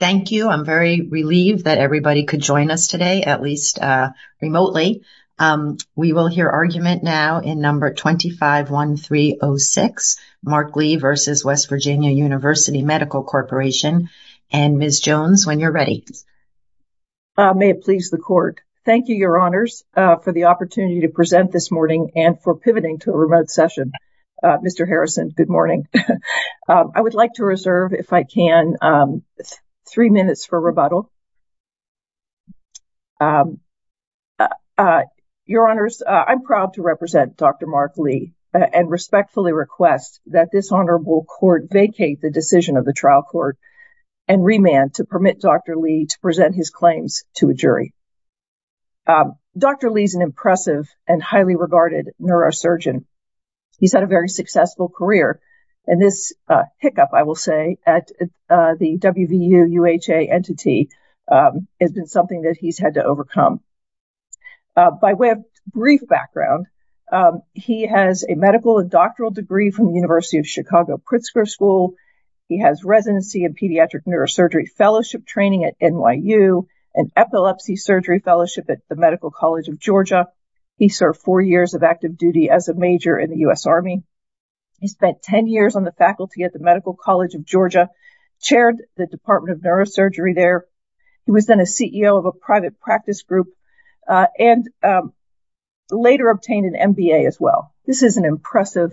Thank you. I'm very relieved that everybody could join us today, at least remotely. We will hear argument now in number 251306, Mark Lee v. West Virginia University Medical Corporation. And Ms. Jones, when you're ready. May it please the court. Thank you, your honors, for the opportunity to present this morning and for pivoting to a remote session. Mr. Harrison, good morning. I would like to reserve, if I can, three minutes for rebuttal. Your honors, I'm proud to represent Dr. Mark Lee and respectfully request that this honorable court vacate the decision of the trial court and remand to permit Dr. Lee to present his claims to a jury. Dr. Lee is an impressive and highly regarded neurosurgeon. He's had a very successful career, and this hiccup, I will say, at the WVU UHA entity has been something that he's had to overcome. By way of brief background, he has a medical and doctoral degree from the University of Chicago Pritzker School. He has residency in pediatric neurosurgery fellowship training at NYU, an undergraduate major in the U.S. Army. He spent 10 years on the faculty at the Medical College of Georgia, chaired the Department of Neurosurgery there. He was then a CEO of a private practice group and later obtained an MBA as well. This is an impressive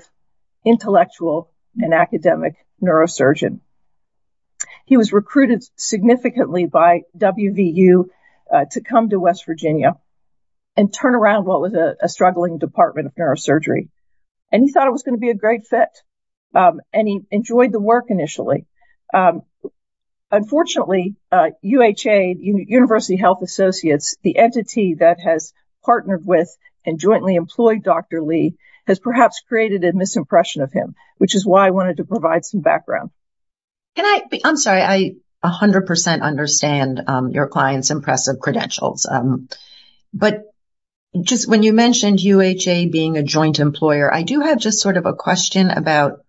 intellectual and academic neurosurgeon. He was recruited significantly by WVU to come to West Virginia and turn around what was a struggling Department of Neurosurgery, and he thought it was going to be a great fit. And he enjoyed the work initially. Unfortunately, UHA, University Health Associates, the entity that has partnered with and jointly employed Dr. Lee, has perhaps created a misimpression of him, which is why I wanted to provide some background. Can I, I'm sorry, I 100% understand your client's impressive credentials. But just when you mentioned UHA being a joint employer, I do have just sort of a question about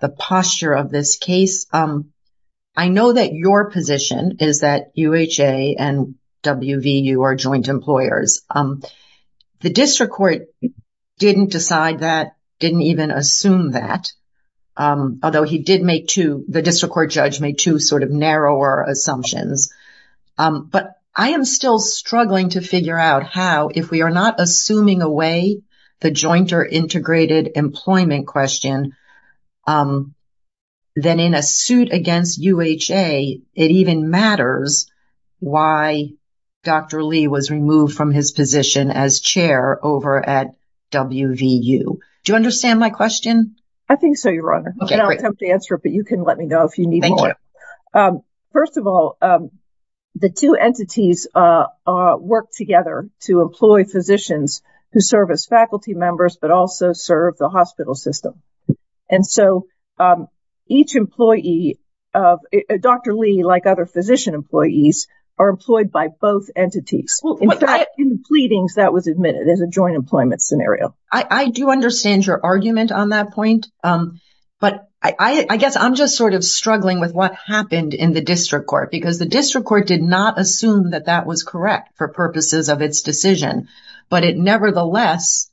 the posture of this case. I know that your position is that UHA and WVU are joint employers. The district court didn't decide that, didn't even assume that. Although he did make two, the district court judge made two sort of narrower assumptions. But I am still struggling to figure out how, if we are not assuming away the jointer integrated employment question, then in a suit against UHA, it even matters why Dr. Lee was removed from his position as chair over at WVU. Do you understand my question? I think so, Your Honor. I'll attempt to answer it, but you can let me know if you need more. First of all, the two entities work together to employ physicians who serve as faculty members, but also serve the hospital system. And so each employee, Dr. Lee, like other physician employees, are employed by both entities. In the pleadings that was admitted as a joint employment scenario. I do understand your argument on that point. But I guess I'm just sort of struggling with what happened in the district court because the district court did not assume that that was correct for purposes of its decision, but it nevertheless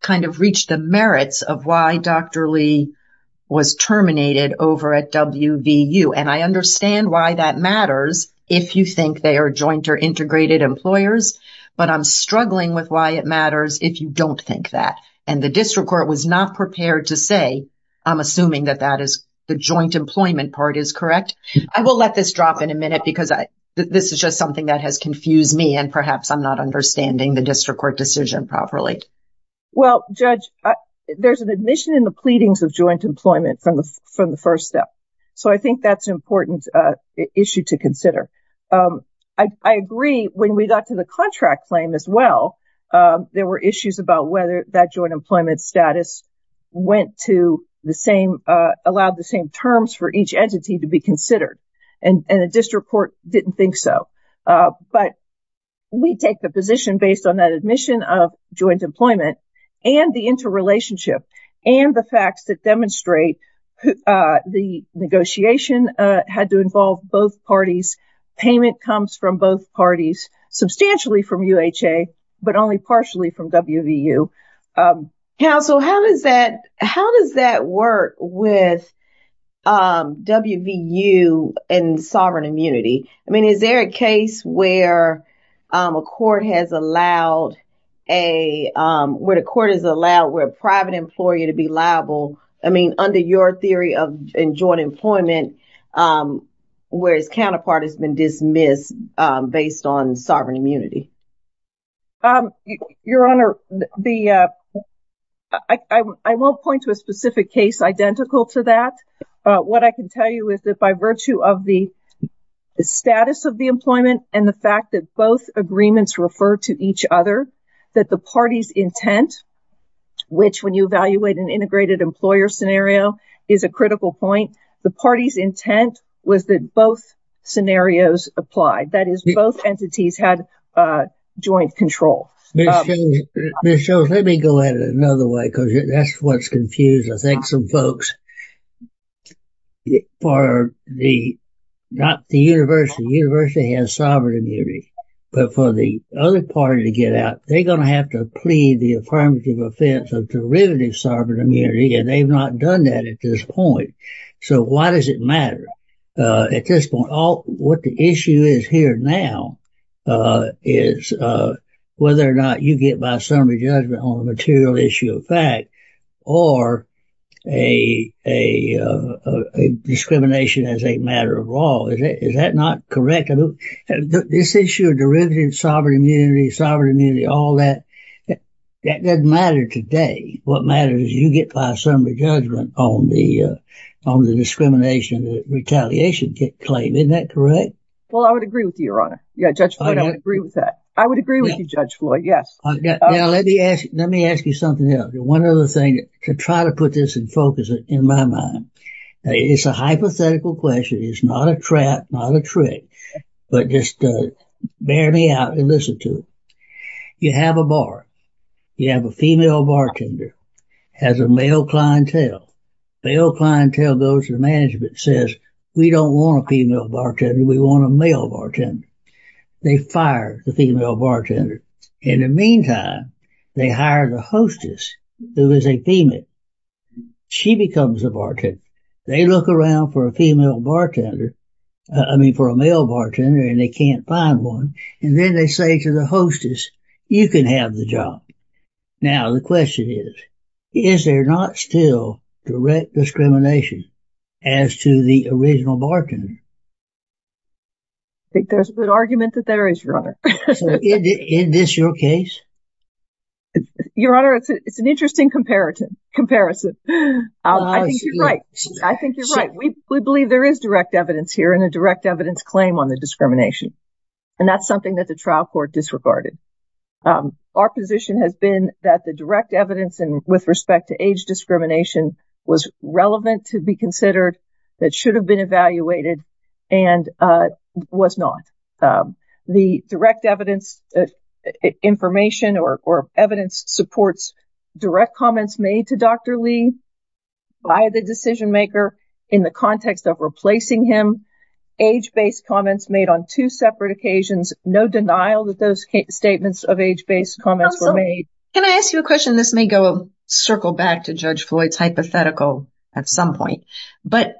kind of reached the merits of why Dr. Lee was terminated over at WVU. And I understand why that matters if you think they are joint or integrated employers, but I'm struggling with why it matters if you don't think that. And the district court was not prepared to say I'm assuming that that is the joint employment part is correct. I will let this drop in a minute because I this is just something that has confused me and perhaps I'm not understanding the district court decision properly. Well, Judge, there's an admission in the pleadings of joint employment from the from the first step. So I think that's an important issue to consider. I agree when we got to the contract claim as well, there were issues about whether that joint employment status went to the same, allowed the same terms for each entity to be considered and the district court didn't think so. But we take the position based on that admission of joint employment and the interrelationship and the facts that demonstrate the negotiation had to involve both parties. Payment comes from both parties, substantially from UHA, but only partially from WVU. Counsel, how does that how does that work with WVU and sovereign immunity? I mean, is there a case where a court has allowed a where the court is allowed where private employee to be liable, I mean under your theory of joint employment, where his counterpart has been dismissed based on sovereign immunity? Your Honor, the I won't point to a specific case identical to that. What I can tell you is that by virtue of the status of the employment and the fact that both agreements refer to each other that the party's intent, which when you evaluate an integrated employer scenario is a critical point, the party's intent was that both scenarios applied. That is, both entities had joint control. Ms. Jones, let me go at it another way because that's what's confused, I think, some folks. For the not the university, the university has sovereign immunity, but for the other party to get out, they're going to have to plead the affirmative offense of derivative sovereign immunity, and they've not done that at this point. So why does it matter? At this point, all what the issue is here now is whether or not you get by summary judgment on a material issue of fact or a discrimination as a matter of law. Is that not correct? This issue of derivative sovereign immunity, sovereign immunity, all that, that doesn't matter today. What matters is you get by summary judgment on the discrimination, the retaliation claim. Isn't that correct? Well, I would agree with you, Your Honor. Yeah, Judge Floyd, I would agree with that. I would agree with you, Judge Floyd. Yes. Now, let me ask you something else. One other thing to try to put this in focus in my mind. It's a hypothetical question. It's not a trap, not a trick, but just bear me out and listen to it. You have a bar. You have a female bartender has a male clientele. The old clientele goes to the management and says, we don't want a female bartender. We want a male bartender. They fire the female bartender. In the meantime, they hire the hostess who is a female. She becomes a bartender. They look around for a female bartender, I mean for a male bartender, and they can't find one. And then they say to the hostess, you can have the job. Now the question is, is there not still direct discrimination as to the original bartender? There's a good argument that there is, Your Honor. Is this your case? Your Honor, it's an interesting comparison. I think you're right. I think you're right. We believe there is direct evidence here and a direct evidence claim on the discrimination. And that's something that the trial court disregarded. Our position has been that the direct evidence with respect to age discrimination was relevant to be considered, that should have been evaluated, and was not. The direct evidence information or evidence supports direct comments made to Dr. Lee by the decision maker in the context of replacing him, age-based comments made on two separate occasions. No denial that those statements of age-based comments were made. Can I ask you a question? This may go circle back to Judge Floyd's hypothetical at some point, but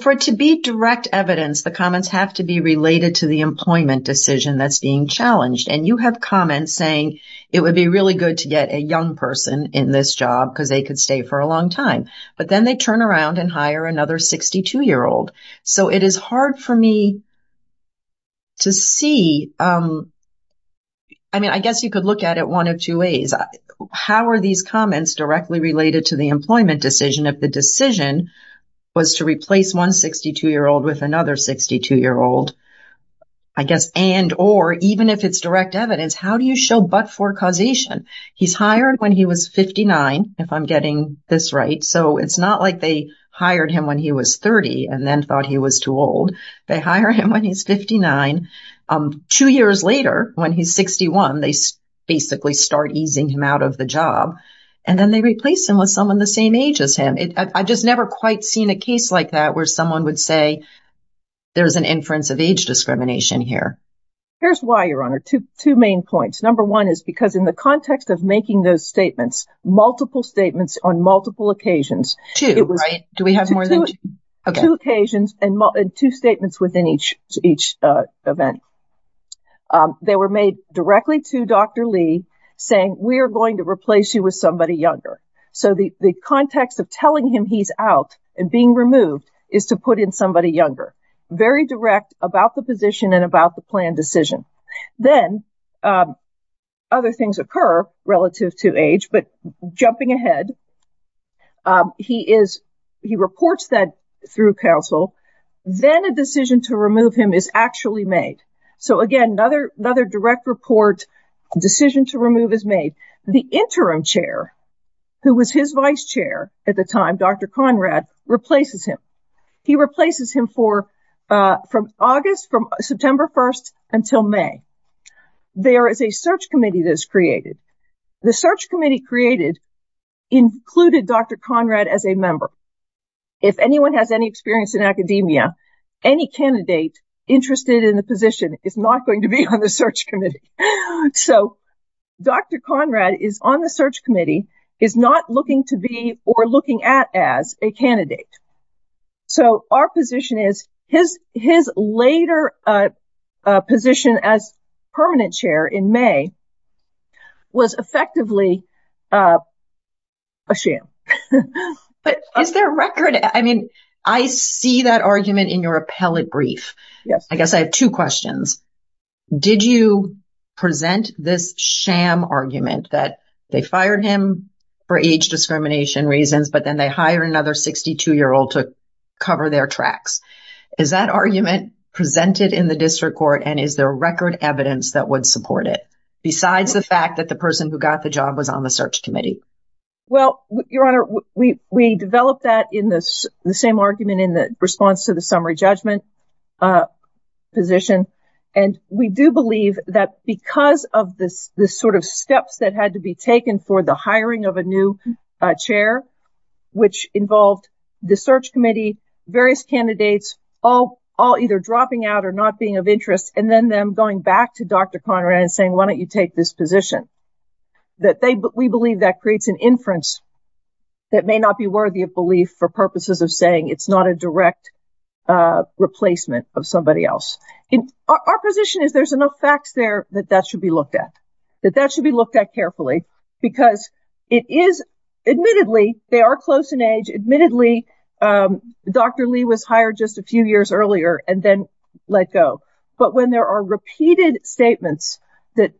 for it to be direct evidence, the comments have to be related to the employment decision that's being challenged. And you have comments saying it would be really good to get a young person in this job because they could stay for a long time. But then they turn around and hire another 62-year-old. So it is hard for me to see, I mean, I guess you could look at it one of two ways. How are these comments directly related to the employment decision if the decision was to replace one 62-year-old with another 62-year-old, I guess, and or even if it's direct evidence, how do you show but-for causation? He's hired when he was 59, if I'm getting this right. So it's not like they hired him when he was 30 and then thought he was too old. They hire him when he's 59. Two years later, when he's 61, they basically start easing him out of the job. And then they replace him with someone the same age as him. I've just never quite seen a case like that where someone would say there's an inference of age discrimination here. Here's why, Your Honor. Two main points. Number one is because in the context of making those statements, multiple statements on multiple occasions. Two, right? Do we have more than two? Two occasions and two statements within each event. They were made directly to Dr. Lee saying we are going to replace you with somebody younger. So the context of telling him he's out and being removed is to put in somebody younger. Very direct about the position and about the plan decision. other things occur relative to age, but jumping ahead, he reports that through counsel. Then a decision to remove him is actually made. So again, another direct report, decision to remove is made. The interim chair, who was his vice chair at the time, Dr. Conrad, replaces him. He replaces him from August, from September 1st until May. There is a search committee that is created. The search committee created included Dr. Conrad as a member. If anyone has any experience in academia, any candidate interested in the position is not going to be on the search committee. So Dr. Conrad is on the search committee, is not looking to be or looking at as a candidate. So our position is his later position as permanent chair in May was effectively a sham. But is there a record? I mean, I see that argument in your appellate brief. Yes. I guess I have two questions. Did you present this sham argument that they fired him for age discrimination reasons, but then they hire another 62 year old to cover their tracks? Is that argument presented in the district court? And is there record evidence that would support it? Besides the fact that the person who got the job was on the search committee? Well, your honor, we developed that in the same argument in the response to the summary judgment position. And we do believe that because of the sort of steps that had to be taken for the hiring of a new chair, which involved the search committee, various candidates, all either dropping out or not being of interest and then them going back to Dr. Conrad and saying, why don't you take this position? That we believe that creates an inference that may not be worthy of belief for purposes of saying it's not a direct replacement of somebody else. Our position is there's enough facts there that that should be looked at, that that should be looked at carefully because it is admittedly, they are close in age. Admittedly, Dr. Lee was hired just a few years earlier and then let go. But when there are repeated statements that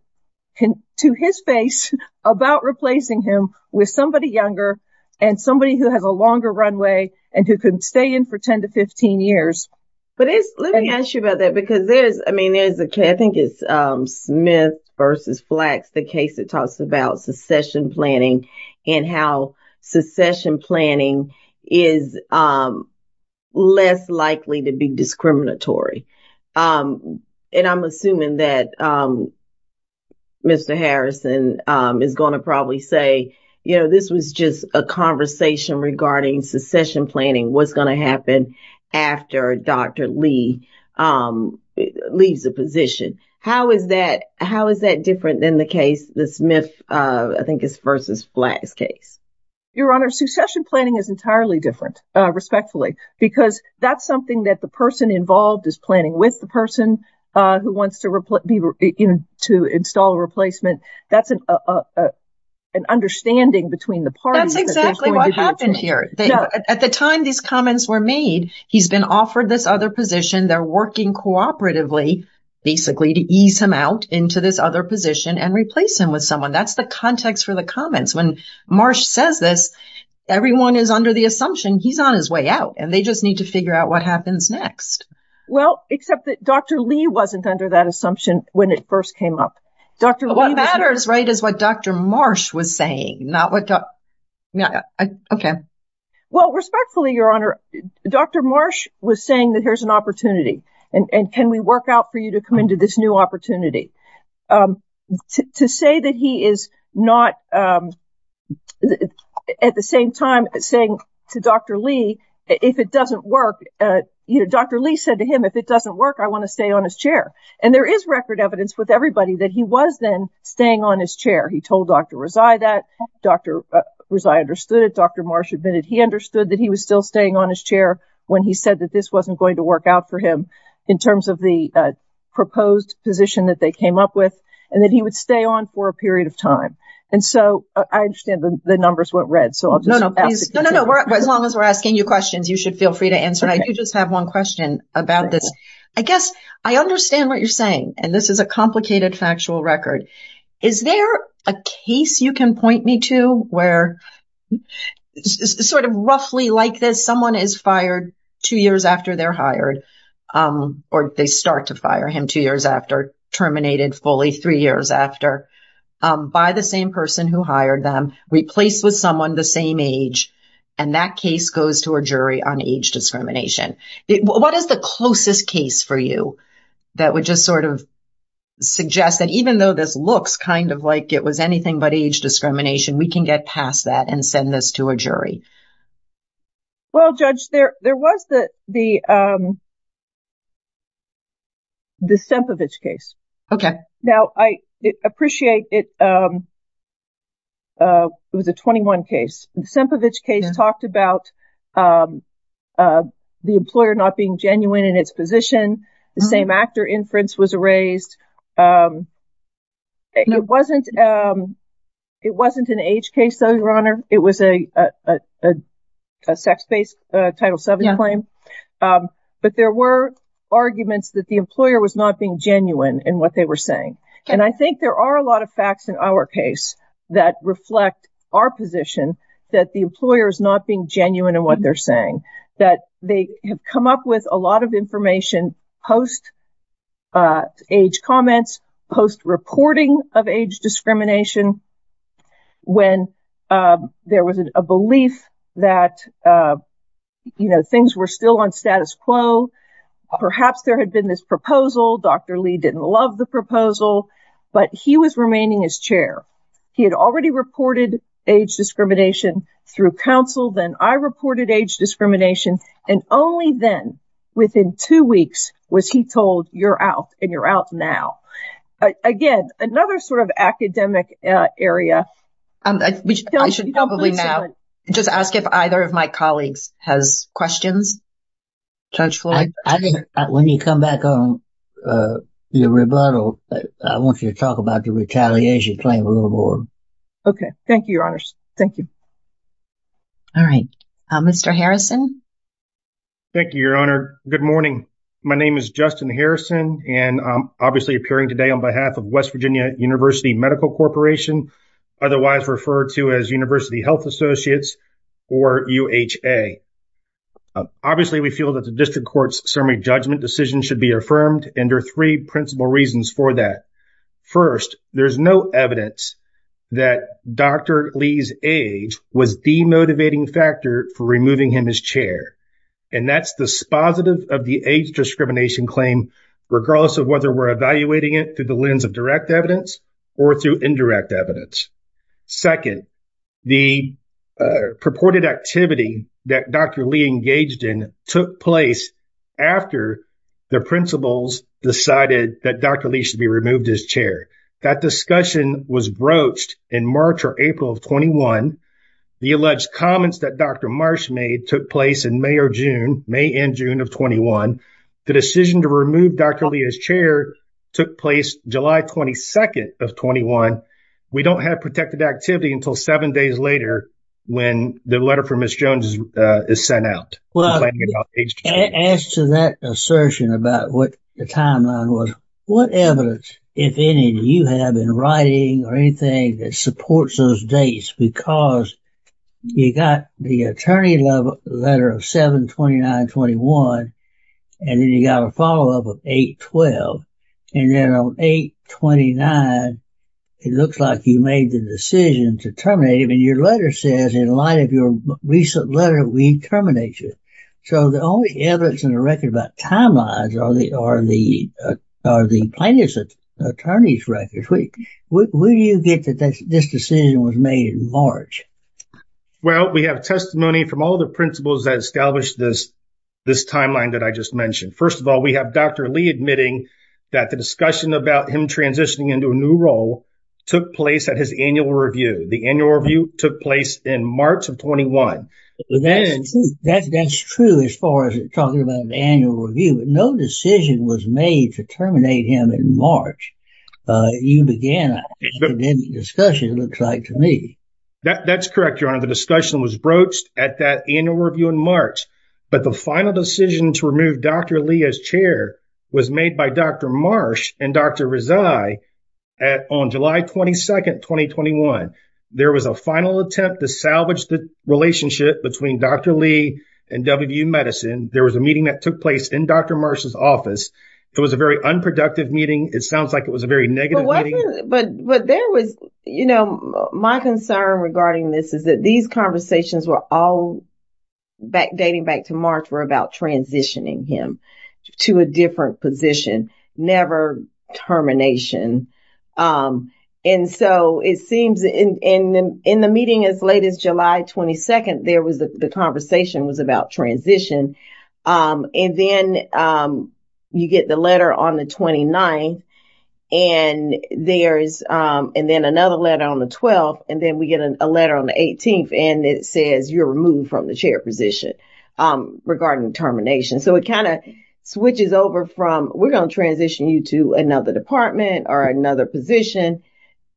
can, to his face, about replacing him with somebody younger and somebody who has a longer runway and who could stay in for 10 to 15 years. But let me ask you about that because there's, I mean, there's a case, I think it's Smith versus Flax, the case that talks about secession planning and how secession planning is less likely to be discriminatory. And I'm assuming that Mr. Harrison is going to probably say, you know, this was just a conversation regarding secession planning, what's going to happen after Dr. Lee leaves the position. How is that, how is that different than the case, the Smith, I think is versus Flax case? Your Honor, secession planning is entirely different, respectfully, because that's something that the person involved is planning with the person who wants to be, you know, to install a replacement. That's an understanding between the parties. That's exactly what happened here. At the time these comments were made, he's been offered this other position. They're working cooperatively basically to ease him out into this other position and replace him with someone. That's the context for the comments. When Marsh says this, everyone is under the assumption he's on his way out and they just need to figure out what happens next. Well, except that Dr. Lee wasn't under that assumption when it first came up. What matters, right, is what Dr. Marsh was saying, not what Yeah, okay. Well, respectfully, Your Honor, Dr. Marsh was saying that here's an opportunity and can we work out for you to come into this new opportunity? To say that he is not at the same time saying to Dr. Lee, if it doesn't work, Dr. Lee said to him, if it doesn't work, I want to stay on his chair. And there is record evidence with everybody that he was then staying on his chair. He told Dr. Rezai that, Dr. Rezai understood it. Dr. Marsh admitted he understood that he was still staying on his chair when he said that this wasn't going to work out for him in terms of the proposed position that they came up with and that he would stay on for a period of time. And so I understand the numbers weren't read. So I'll just ask. No, no, as long as we're asking you questions, you should feel free to answer. I do just have one question about this. I guess I understand what you're saying and this is a complicated factual record. Is there a case you can point me to where sort of roughly like this, someone is fired two years after they're hired or they start to fire him two years after, terminated fully three years after, by the same person who hired them, replaced with someone the same age. And that case goes to a jury on age discrimination. What is the closest case for you that would just sort of suggest that even though this looks kind of like it was anything but age discrimination, we can get past that and send this to a jury? Well, Judge, there was the the Sempovich case. Okay. Now, I appreciate it. It was a 21 case. The Sempovich case talked about the employer not being genuine in its position. The same actor inference was erased. It wasn't an age case, though, Your Honor. It was a sex-based Title VII claim. But there were arguments that the employer was not being genuine in what they were saying. And I think there are a lot of facts in our case that reflect our position that the employer is not being genuine in what they're saying, that they have come up with a lot of information post age comments, post reporting of age discrimination, when there was a belief that things were still on status quo. Perhaps there had been this proposal. Dr. Lee didn't love the proposal, but he was remaining as chair. He had already reported age discrimination through counsel. Then I reported age discrimination, and only then, within two weeks, was he told, you're out, and you're out now. Again, another sort of academic area. I should probably now just ask if either of my colleagues has questions. Judge Floyd? I think when you come back on the rebuttal, I want you to talk about the retaliation claim a little more. Okay. Thank you, Your Honor. Thank you. All right, Mr. Harrison. Thank you, Your Honor. Good morning. My name is Justin Harrison, and I'm obviously appearing today on behalf of West Virginia University Medical Corporation, otherwise referred to as University Health Associates or UHA. Obviously, we feel that the district court's summary judgment decision should be affirmed, and there are three principal reasons for that. First, there's no evidence that Dr. Lee's age was the motivating factor for removing him as chair, and that's the spositive of the age discrimination claim, regardless of whether we're evaluating it through the lens of direct evidence or through indirect evidence. Second, the purported activity that Dr. Lee engaged in took place after the principals decided that Dr. Lee should be removed as chair. That discussion was broached in March or April of 21. The alleged comments that Dr. Marsh made took place in May or June, May and June of 21. The decision to remove Dr. Lee as chair took place July 22nd of 21. We don't have protected activity until seven days later when the letter from Ms. Jones is sent out. Well, as to that assertion about what the timeline was, what evidence, if any, do you have in writing or anything that supports those dates? Because you got the attorney letter of 7-29-21, and then you got a follow-up of 8-12, and then on 8-29, it looks like you made the decision to terminate him, and your letter says, in light of your recent letter, we terminate you. So the only evidence in the record about timelines are the plaintiff's attorney's records. Where do you get that this decision was made in March? Well, we have testimony from all the principals that established this timeline that I just mentioned. First of all, we have Dr. Lee admitting that the discussion about him transitioning into a new role took place at his annual review. The annual review took place in March of 21. That's true as far as talking about an annual review, but no decision was made to terminate him in March. You began an academic discussion, it looks like, to me. That's correct, Your Honor. The discussion was broached at that annual review in March, but the final decision to remove Dr. Lee as chair was made by Dr. Marsh and Dr. Rezai on July 22, 2021. There was a final attempt to salvage the relationship between Dr. Lee and WU Medicine. There was a meeting that took place in Dr. Marsh's office. It was a very unproductive meeting. It sounds like it was a very negative meeting. But there was, you know, my concern regarding this is that these conversations were all dating back to March, were about transitioning him to a different position, never termination. And so it seems in the meeting as late as July 22, the conversation was about transition. And then you get the letter on the 29th and there's and then another letter on the 12th, and then we get a letter on the 18th, and it says you're removed from the chair position regarding termination. So it kind of switches over from we're going to transition you to another department or another position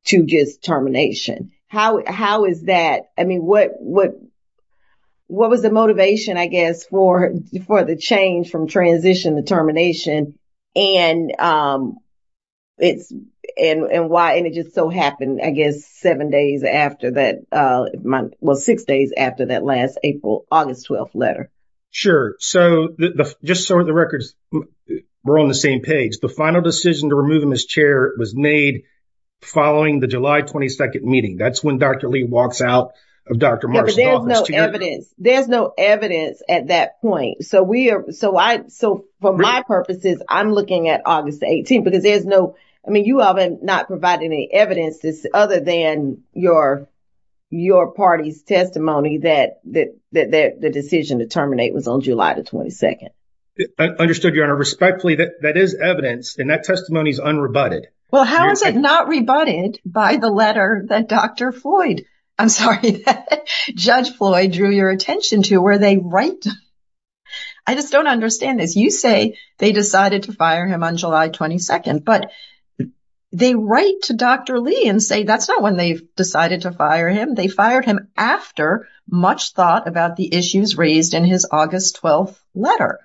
to just termination. How is that? I mean, what what was the motivation, I guess, for the change from transition to termination? it's and why and it just so happened, I guess, seven days after that. Well, six days after that last April, August 12th letter. Sure, so the just sort of the records were on the same page. The final decision to remove him as chair was made following the July 22nd meeting. That's when Dr. Lee walks out of Dr. Marston's office. There's no evidence at that point. So we are so I so for my purposes I'm looking at August 18th because there's no I mean you all have not provided any evidence this other than your your party's testimony that that that the decision to terminate was on July the 22nd. I understood your honor respectfully that that is evidence and that testimony is unrebutted. Well, how is it not rebutted by the letter that Dr. Floyd? I'm, sorry Judge Floyd drew your attention to where they write I just don't understand this you say they decided to fire him on July 22nd, but They write to Dr. Lee and say that's not when they've decided to fire him They fired him after much thought about the issues raised in his August 12th letter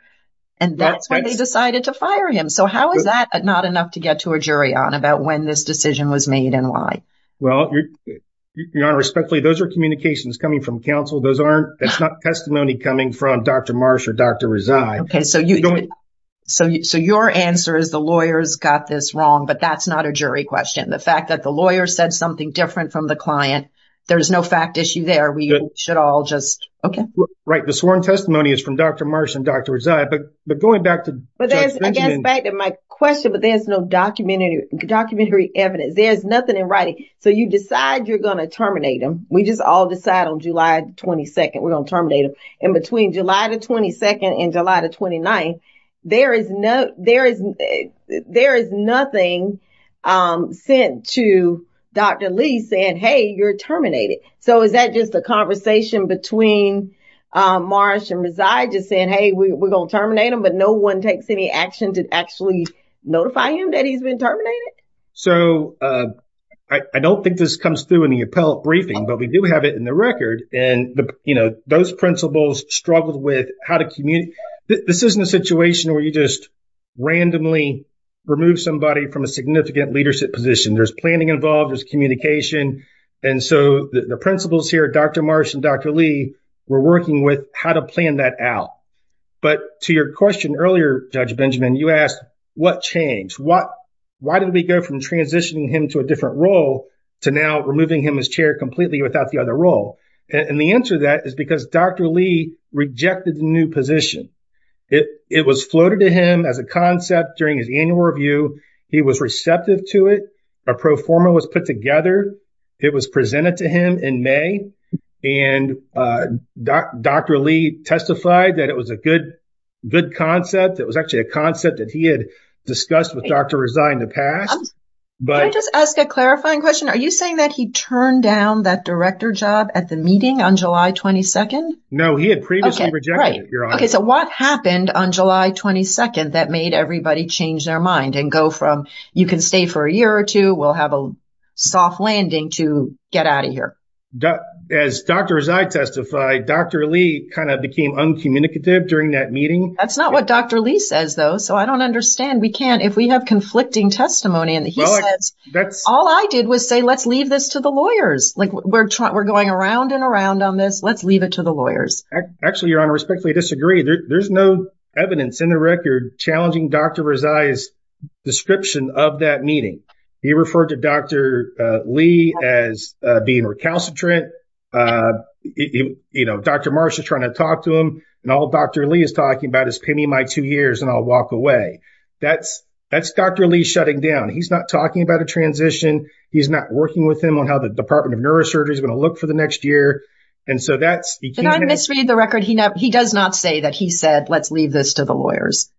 And that's why they decided to fire him So how is that not enough to get to a jury on about when this decision was made and why? Well, Your honor respectfully those are communications coming from counsel. Those aren't that's not testimony coming from Dr. Marsh or Dr. Rezai. Okay, so you Your answer is the lawyers got this wrong, but that's not a jury question The fact that the lawyer said something different from the client. There's no fact issue there. We should all just okay, right? The sworn testimony is from Dr. Marsh and Dr. Rezai, but but going back to I guess back to my question, but there's no documentary documentary evidence. There's nothing in writing So you decide you're going to terminate them. We just all decide on July 22nd We're going to terminate them in between July the 22nd and July the 29th There is no there is There is nothing um sent to Dr. Lee saying hey, you're terminated. So is that just a conversation between? Um marsh and reside just saying hey, we're gonna terminate him, but no one takes any action to actually Notify him that he's been terminated. So, uh I I don't think this comes through in the appellate briefing, but we do have it in the record and the you know Those principals struggled with how to communicate this isn't a situation where you just randomly Remove somebody from a significant leadership position. There's planning involved. There's communication And so the principals here, dr. Marsh and dr. Lee were working with how to plan that out But to your question earlier judge benjamin you asked what changed what? Why did we go from transitioning him to a different role to now removing him as chair completely without the other role? And the answer to that is because dr. Lee rejected the new position It it was floated to him as a concept during his annual review He was receptive to it a pro forma was put together It was presented to him in may and uh Dr. Lee testified that it was a good Good concept. It was actually a concept that he had discussed with dr. Resign in the past But just ask a clarifying question are you saying that he turned down that director job at the meeting on july 22nd No, he had previously rejected. Okay. So what happened on july 22nd that made everybody change their mind and go from You can stay for a year or two. We'll have a Soft landing to get out of here As doctors, I testify. Dr. Lee kind of became uncommunicative during that meeting. That's not what dr Lee says though, so I don't understand we can't if we have conflicting testimony and he says That's all I did was say let's leave this to the lawyers Like we're trying we're going around and around on this. Let's leave it to the lawyers Actually, your honor respectfully disagree. There's no evidence in the record challenging. Dr. Rezai's Description of that meeting he referred to. Dr. Lee as being recalcitrant uh You know, dr Marsh is trying to talk to him and all dr Lee is talking about is pay me my two years and i'll walk away. That's that's dr. Lee shutting down He's not talking about a transition He's not working with him on how the department of neurosurgery is going to look for the next year And so that's and I misread the record. He does not say that he said let's leave this to the lawyers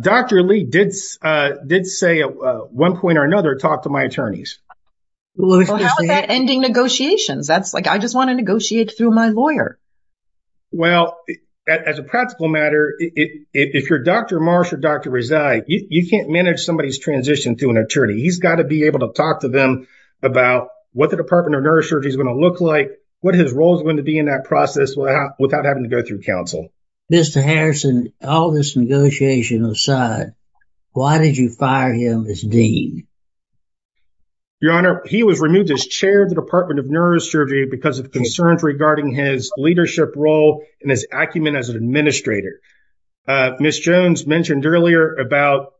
Dr. Lee did uh did say at one point or another talk to my attorneys Well, how is that ending negotiations that's like I just want to negotiate through my lawyer well As a practical matter If you're dr. Marsh or dr. Rezai, you can't manage somebody's transition to an attorney He's got to be able to talk to them About what the department of neurosurgery is going to look like what his role is going to be in that process Without having to go through counsel. Mr. Harrison all this negotiation aside Why did you fire him as dean? Your honor he was removed as chair of the department of neurosurgery because of concerns regarding his leadership role in his acumen as an administrator uh, miss jones mentioned earlier about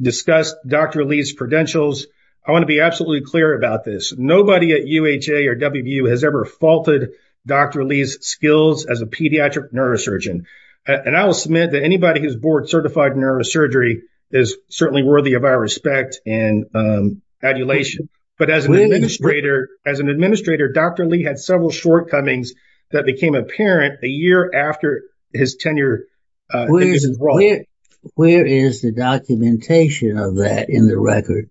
Discussed dr. Lee's credentials. I want to be absolutely clear about this. Nobody at uha or wbu has ever faulted Dr. Lee's skills as a pediatric neurosurgeon And I will submit that anybody who's board certified neurosurgery is certainly worthy of our respect and um, Adulation, but as an administrator as an administrator, dr Lee had several shortcomings that became apparent a year after his tenure Where is the documentation of that in the record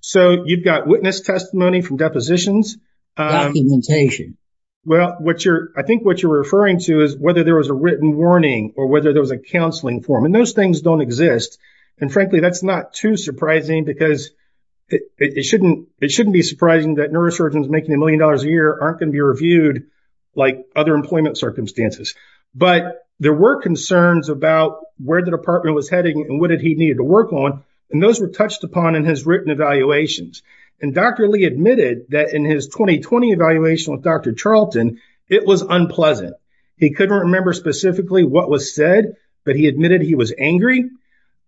So you've got witness testimony from depositions documentation Well what you're I think what you're referring to is whether there was a written warning or whether there was a counseling form and those things don't exist and frankly, that's not too surprising because It shouldn't it shouldn't be surprising that neurosurgeons making a million dollars a year aren't going to be reviewed like other employment circumstances But there were concerns about where the department was heading and what did he needed to work on? And those were touched upon in his written evaluations And dr. Lee admitted that in his 2020 evaluation with dr. Charlton. It was unpleasant He couldn't remember specifically what was said, but he admitted he was angry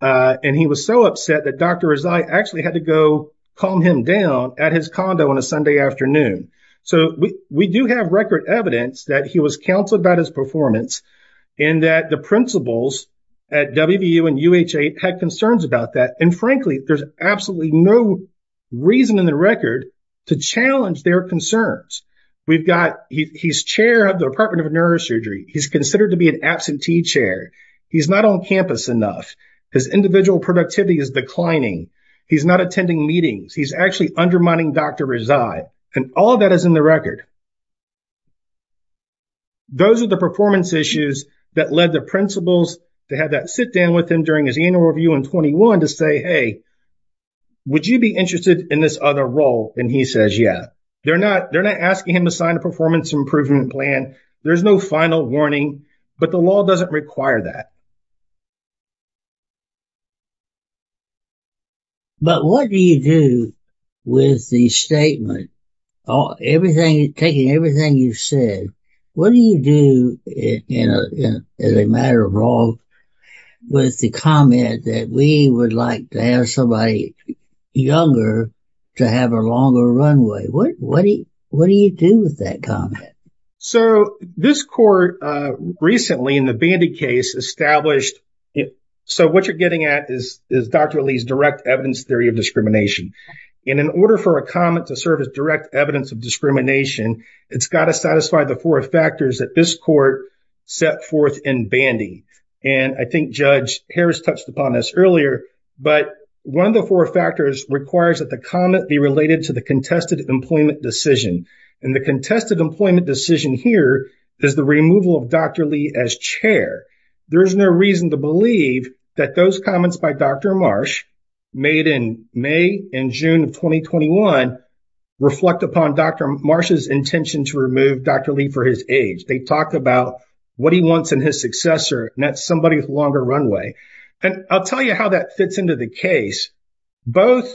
Uh, and he was so upset that dr Rezai actually had to go calm him down at his condo on a sunday afternoon So we we do have record evidence that he was counseled about his performance And that the principals at wvu and uha had concerns about that and frankly, there's absolutely no Reason in the record to challenge their concerns. We've got he's chair of the department of neurosurgery He's considered to be an absentee chair He's not on campus enough his individual productivity is declining He's not attending meetings. He's actually undermining. Dr. Rezai and all that is in the record Those are the performance issues that led the principals to have that sit down with him during his annual review in 21 to say hey Would you be interested in this other role and he says yeah, they're not they're not asking him to sign a performance improvement plan There's no final warning, but the law doesn't require that But what do you do with the statement Oh everything taking everything you've said. What do you do? in a as a matter of law With the comment that we would like to have somebody Younger to have a longer runway. What what do you what do you do with that comment? So this court, uh recently in the bandy case established So what you're getting at is is dr Lee's direct evidence theory of discrimination and in order for a comment to serve as direct evidence of discrimination It's got to satisfy the four factors that this court Set forth in bandy and I think judge harris touched upon this earlier But one of the four factors requires that the comment be related to the contested employment decision And the contested employment decision here is the removal of dr. Lee as chair There's no reason to believe that those comments by dr. Marsh made in may and june of 2021 Reflect upon dr. Marsh's intention to remove dr. Lee for his age They talked about what he wants in his successor and that's somebody with longer runway and i'll tell you how that fits into the case both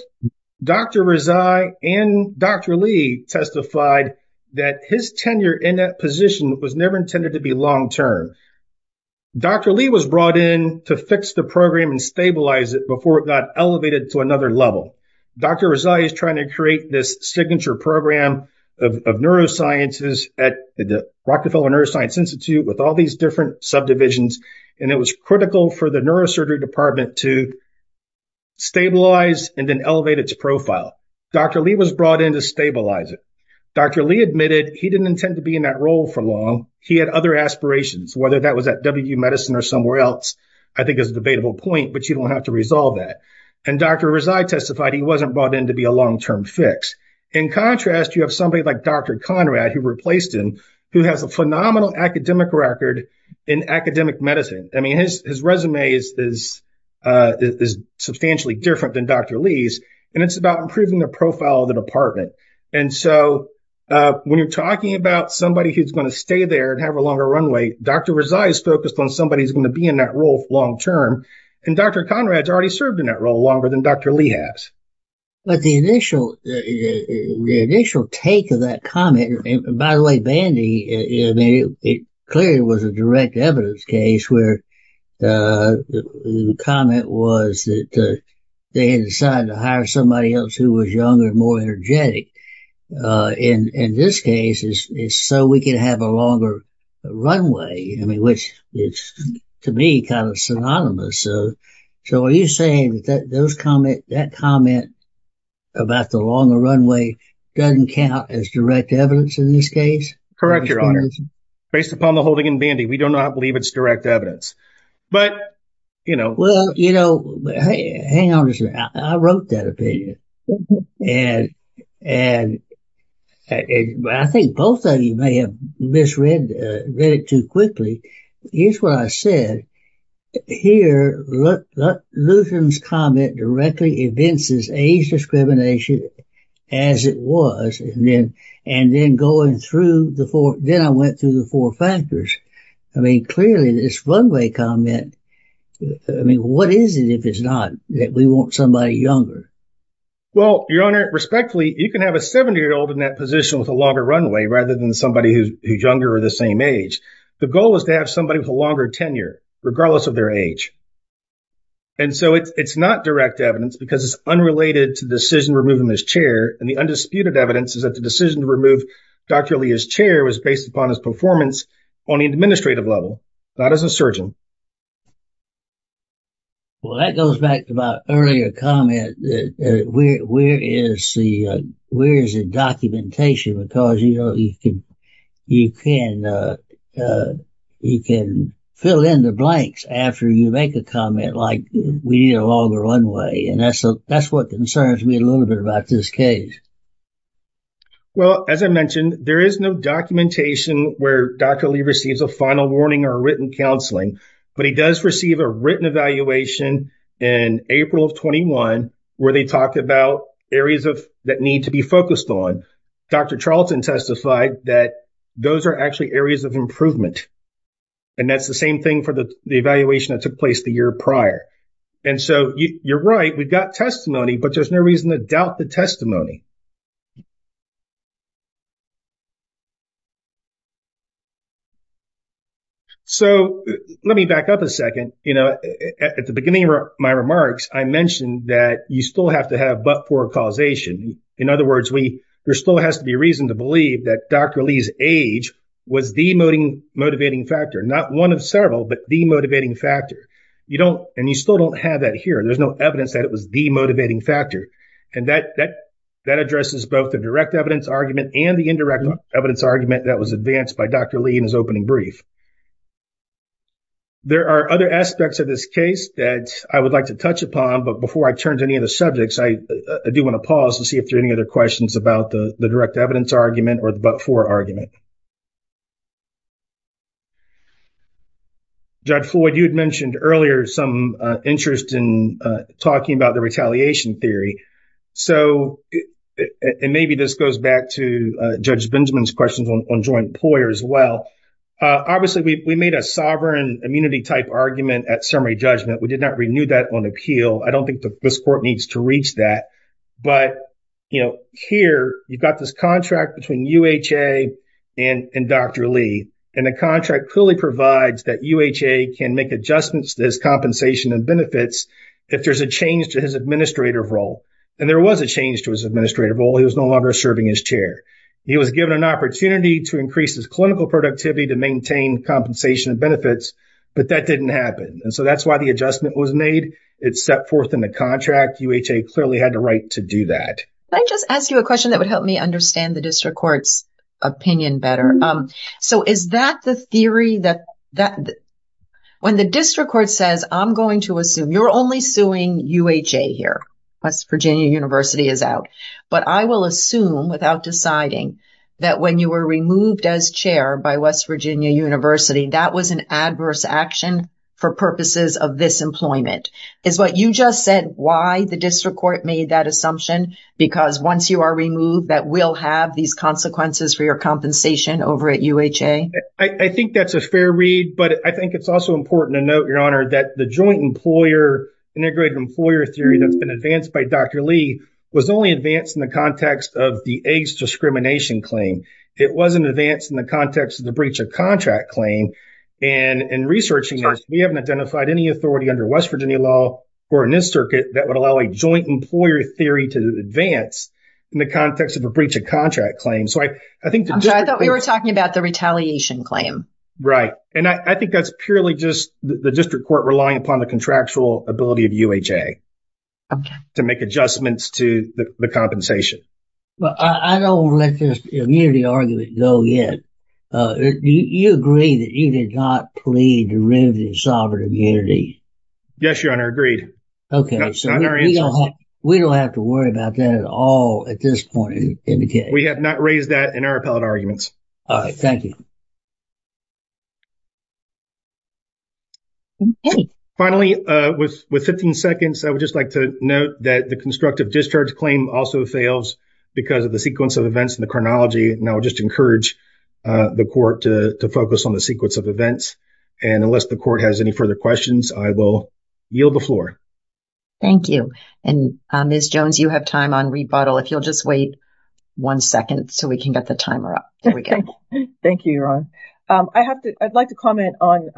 Dr. Rizai and dr. Lee testified that his tenure in that position was never intended to be long term Dr. Lee was brought in to fix the program and stabilize it before it got elevated to another level Dr. Rizai is trying to create this signature program of neurosciences at the rockefeller neuroscience institute with all these different subdivisions and it was critical for the neurosurgery department to To stabilize and then elevate its profile. Dr. Lee was brought in to stabilize it Dr. Lee admitted he didn't intend to be in that role for long He had other aspirations whether that was at w medicine or somewhere else I think is a debatable point, but you don't have to resolve that and dr Rizai testified he wasn't brought in to be a long-term fix in contrast You have somebody like dr. Conrad who replaced him who has a phenomenal academic record in academic medicine I mean his his resume is Is substantially different than dr. Lee's and it's about improving the profile of the department and so When you're talking about somebody who's going to stay there and have a longer runway Dr. Rizai is focused on somebody who's going to be in that role long term And dr. Conrad's already served in that role longer than dr. Lee has but the initial the initial take of that comment, by the way bandy, I mean it clearly was a direct evidence case where the Comment was that They had decided to hire somebody else who was younger and more energetic Uh in in this case is is so we could have a longer Runway, I mean which it's to me kind of synonymous. So so are you saying that those comment that comment? About the longer runway doesn't count as direct evidence in this case, correct? Your honor Based upon the holding in bandy, we do not believe it's direct evidence but You know, well, you know Hang on a second. I wrote that opinion and and I think both of you may have misread uh read it too quickly. Here's what I said here Lutheran's comment directly evinces age discrimination As it was and then and then going through the four then I went through the four factors I mean clearly this runway comment I mean, what is it if it's not that we want somebody younger? Well, your honor respectfully you can have a 70 year old in that position with a longer runway rather than somebody who's younger Or the same age. The goal is to have somebody with a longer tenure regardless of their age And so it's it's not direct evidence because it's unrelated to decision removing this chair and the undisputed evidence is that the decision to remove Dr. Lee his chair was based upon his performance on the administrative level not as a surgeon Well that goes back to my earlier comment that where where is the where is the documentation because you know, you can you can uh, uh You make a comment like we need a longer runway and that's a that's what concerns me a little bit about this case Well, as I mentioned there is no documentation where dr Lee receives a final warning or written counseling, but he does receive a written evaluation In april of 21 where they talk about areas of that need to be focused on Dr. Charlton testified that those are actually areas of improvement And that's the same thing for the evaluation that took place the year prior And so you're right. We've got testimony, but there's no reason to doubt the testimony So Let me back up a second, you know At the beginning of my remarks I mentioned that you still have to have but for causation In other words, we there still has to be reason to believe that dr Lee's age was the motivating motivating factor not one of several but the motivating factor You don't and you still don't have that here. There's no evidence that it was the motivating factor And that that that addresses both the direct evidence argument and the indirect evidence argument that was advanced by dr. Lee in his opening brief There are other aspects of this case that I would like to touch upon but before I turn to any of the subjects I Do want to pause to see if there any other questions about the direct evidence argument or the but for argument Judge floyd you had mentioned earlier some interest in talking about the retaliation theory so And maybe this goes back to judge benjamin's questions on joint employer as well Obviously, we made a sovereign immunity type argument at summary judgment. We did not renew that on appeal I don't think this court needs to reach that but You know here you've got this contract between uha And and dr Lee and the contract clearly provides that uha can make adjustments to his compensation and benefits If there's a change to his administrative role and there was a change to his administrative role. He was no longer serving his chair He was given an opportunity to increase his clinical productivity to maintain compensation and benefits, but that didn't happen And so that's why the adjustment was made. It's set forth in the contract uha clearly had the right to do that Can I just ask you a question that would help me understand the district court's opinion better? Um, so is that the theory that that When the district court says i'm going to assume you're only suing uha here West virginia university is out But I will assume without deciding that when you were removed as chair by west virginia university That was an adverse action for purposes of this employment Is what you just said why the district court made that assumption? Because once you are removed that will have these consequences for your compensation over at uha I I think that's a fair read but I think it's also important to note your honor that the joint employer Integrated employer theory that's been advanced by dr Lee was only advanced in the context of the age discrimination claim It wasn't advanced in the context of the breach of contract claim And in researching this we haven't identified any authority under west virginia law Or in this circuit that would allow a joint employer theory to advance In the context of a breach of contract claim. So I I think I thought we were talking about the retaliation claim Right, and I think that's purely just the district court relying upon the contractual ability of uha Okay to make adjustments to the compensation Well, I I don't let this immunity argument go yet Uh, do you agree that you did not plead to remove the sovereign immunity? Yes, your honor agreed. Okay We don't have to worry about that at all at this point indicate we have not raised that in our appellate arguments. All right. Thank you Okay Finally, uh with with 15 seconds I would just like to note that the constructive discharge claim also fails because of the sequence of events in the chronology and I'll just encourage Uh the court to to focus on the sequence of events And unless the court has any further questions, I will yield the floor Thank you. And uh, ms. Jones, you have time on rebuttal if you'll just wait One second so we can get the timer up. There we go Thank you, your honor, um, I have to i'd like to comment on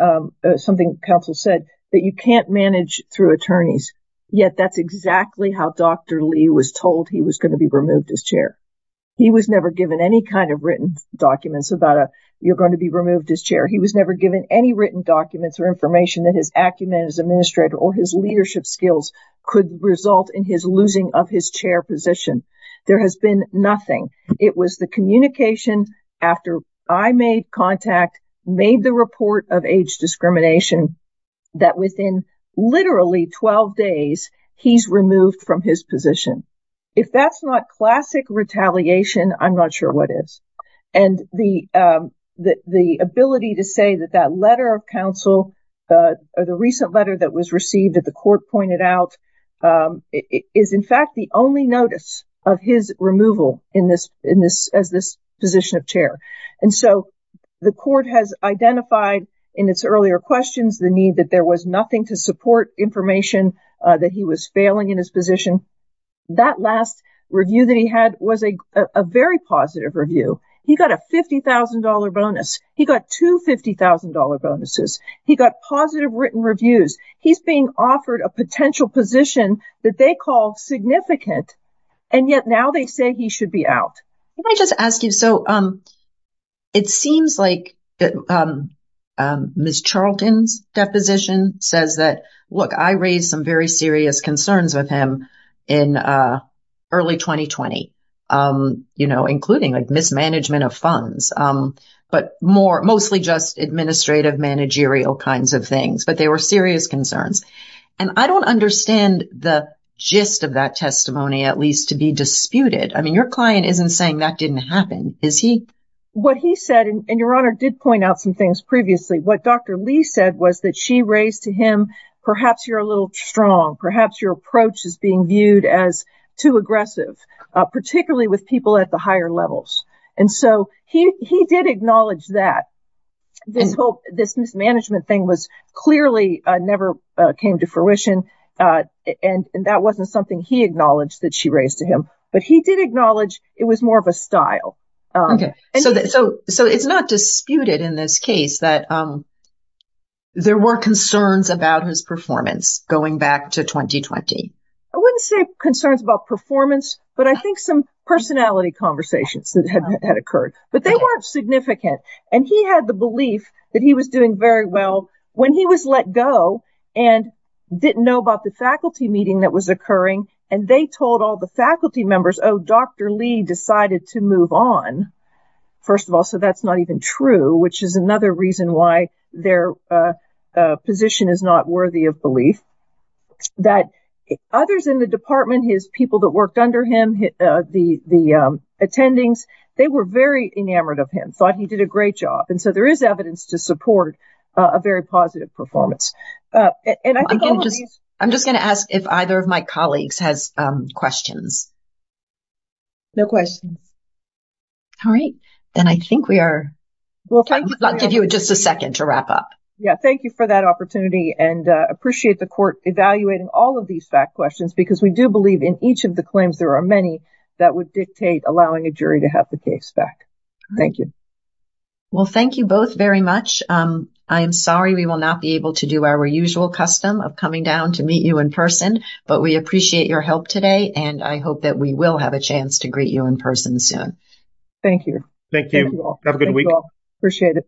Something council said that you can't manage through attorneys yet. That's exactly how dr Lee was told he was going to be removed as chair He was never given any kind of written documents about a you're going to be removed as chair He was never given any written documents or information that his acumen as administrator or his leadership skills Could result in his losing of his chair position. There has been nothing It was the communication after I made contact made the report of age discrimination that within Literally 12 days he's removed from his position If that's not classic retaliation, i'm not sure what is and the um The the ability to say that that letter of counsel Uh, the recent letter that was received that the court pointed out Um is in fact the only notice of his removal in this in this as this position of chair and so The court has identified in its earlier questions the need that there was nothing to support information That he was failing in his position That last review that he had was a a very positive review. He got a fifty thousand dollar bonus He got two fifty thousand dollar bonuses. He got positive written reviews He's being offered a potential position that they call significant And yet now they say he should be out. Let me just ask you. So, um It seems like that. Um Miss charlton's deposition says that look I raised some very serious concerns with him in uh, early 2020 um, you know including like mismanagement of funds, um, But more mostly just administrative managerial kinds of things, but they were serious concerns And I don't understand the gist of that testimony at least to be disputed I mean your client isn't saying that didn't happen is he? What he said and your honor did point out some things previously what dr Lee said was that she raised to him. Perhaps you're a little strong. Perhaps your approach is being viewed as too aggressive Particularly with people at the higher levels and so he he did acknowledge that This hope this mismanagement thing was clearly never came to fruition Uh, and and that wasn't something he acknowledged that she raised to him, but he did acknowledge it was more of a style Okay, so so so it's not disputed in this case that um There were concerns about his performance going back to 2020 I wouldn't say concerns about performance, but I think some personality conversations that had occurred but they weren't significant and he had the belief that he was doing very well when he was let go and Didn't know about the faculty meeting that was occurring and they told all the faculty members. Oh, dr. Lee decided to move on First of all, so that's not even true, which is another reason why their uh, uh position is not worthy of belief That Others in the department his people that worked under him The the um attendings they were very enamored of him thought he did a great job And so there is evidence to support a very positive performance Uh, and I can't just i'm just going to ask if either of my colleagues has um questions No questions All right, then. I think we are Well, thank you. I'll give you just a second to wrap up Yeah, thank you for that opportunity and uh Appreciate the court evaluating all of these fact questions because we do believe in each of the claims There are many that would dictate allowing a jury to have the case back. Thank you Well, thank you both very much. Um, i'm Sorry, we will not be able to do our usual custom of coming down to meet you in person But we appreciate your help today and I hope that we will have a chance to greet you in person soon Thank you. Thank you. Have a good week. Appreciate it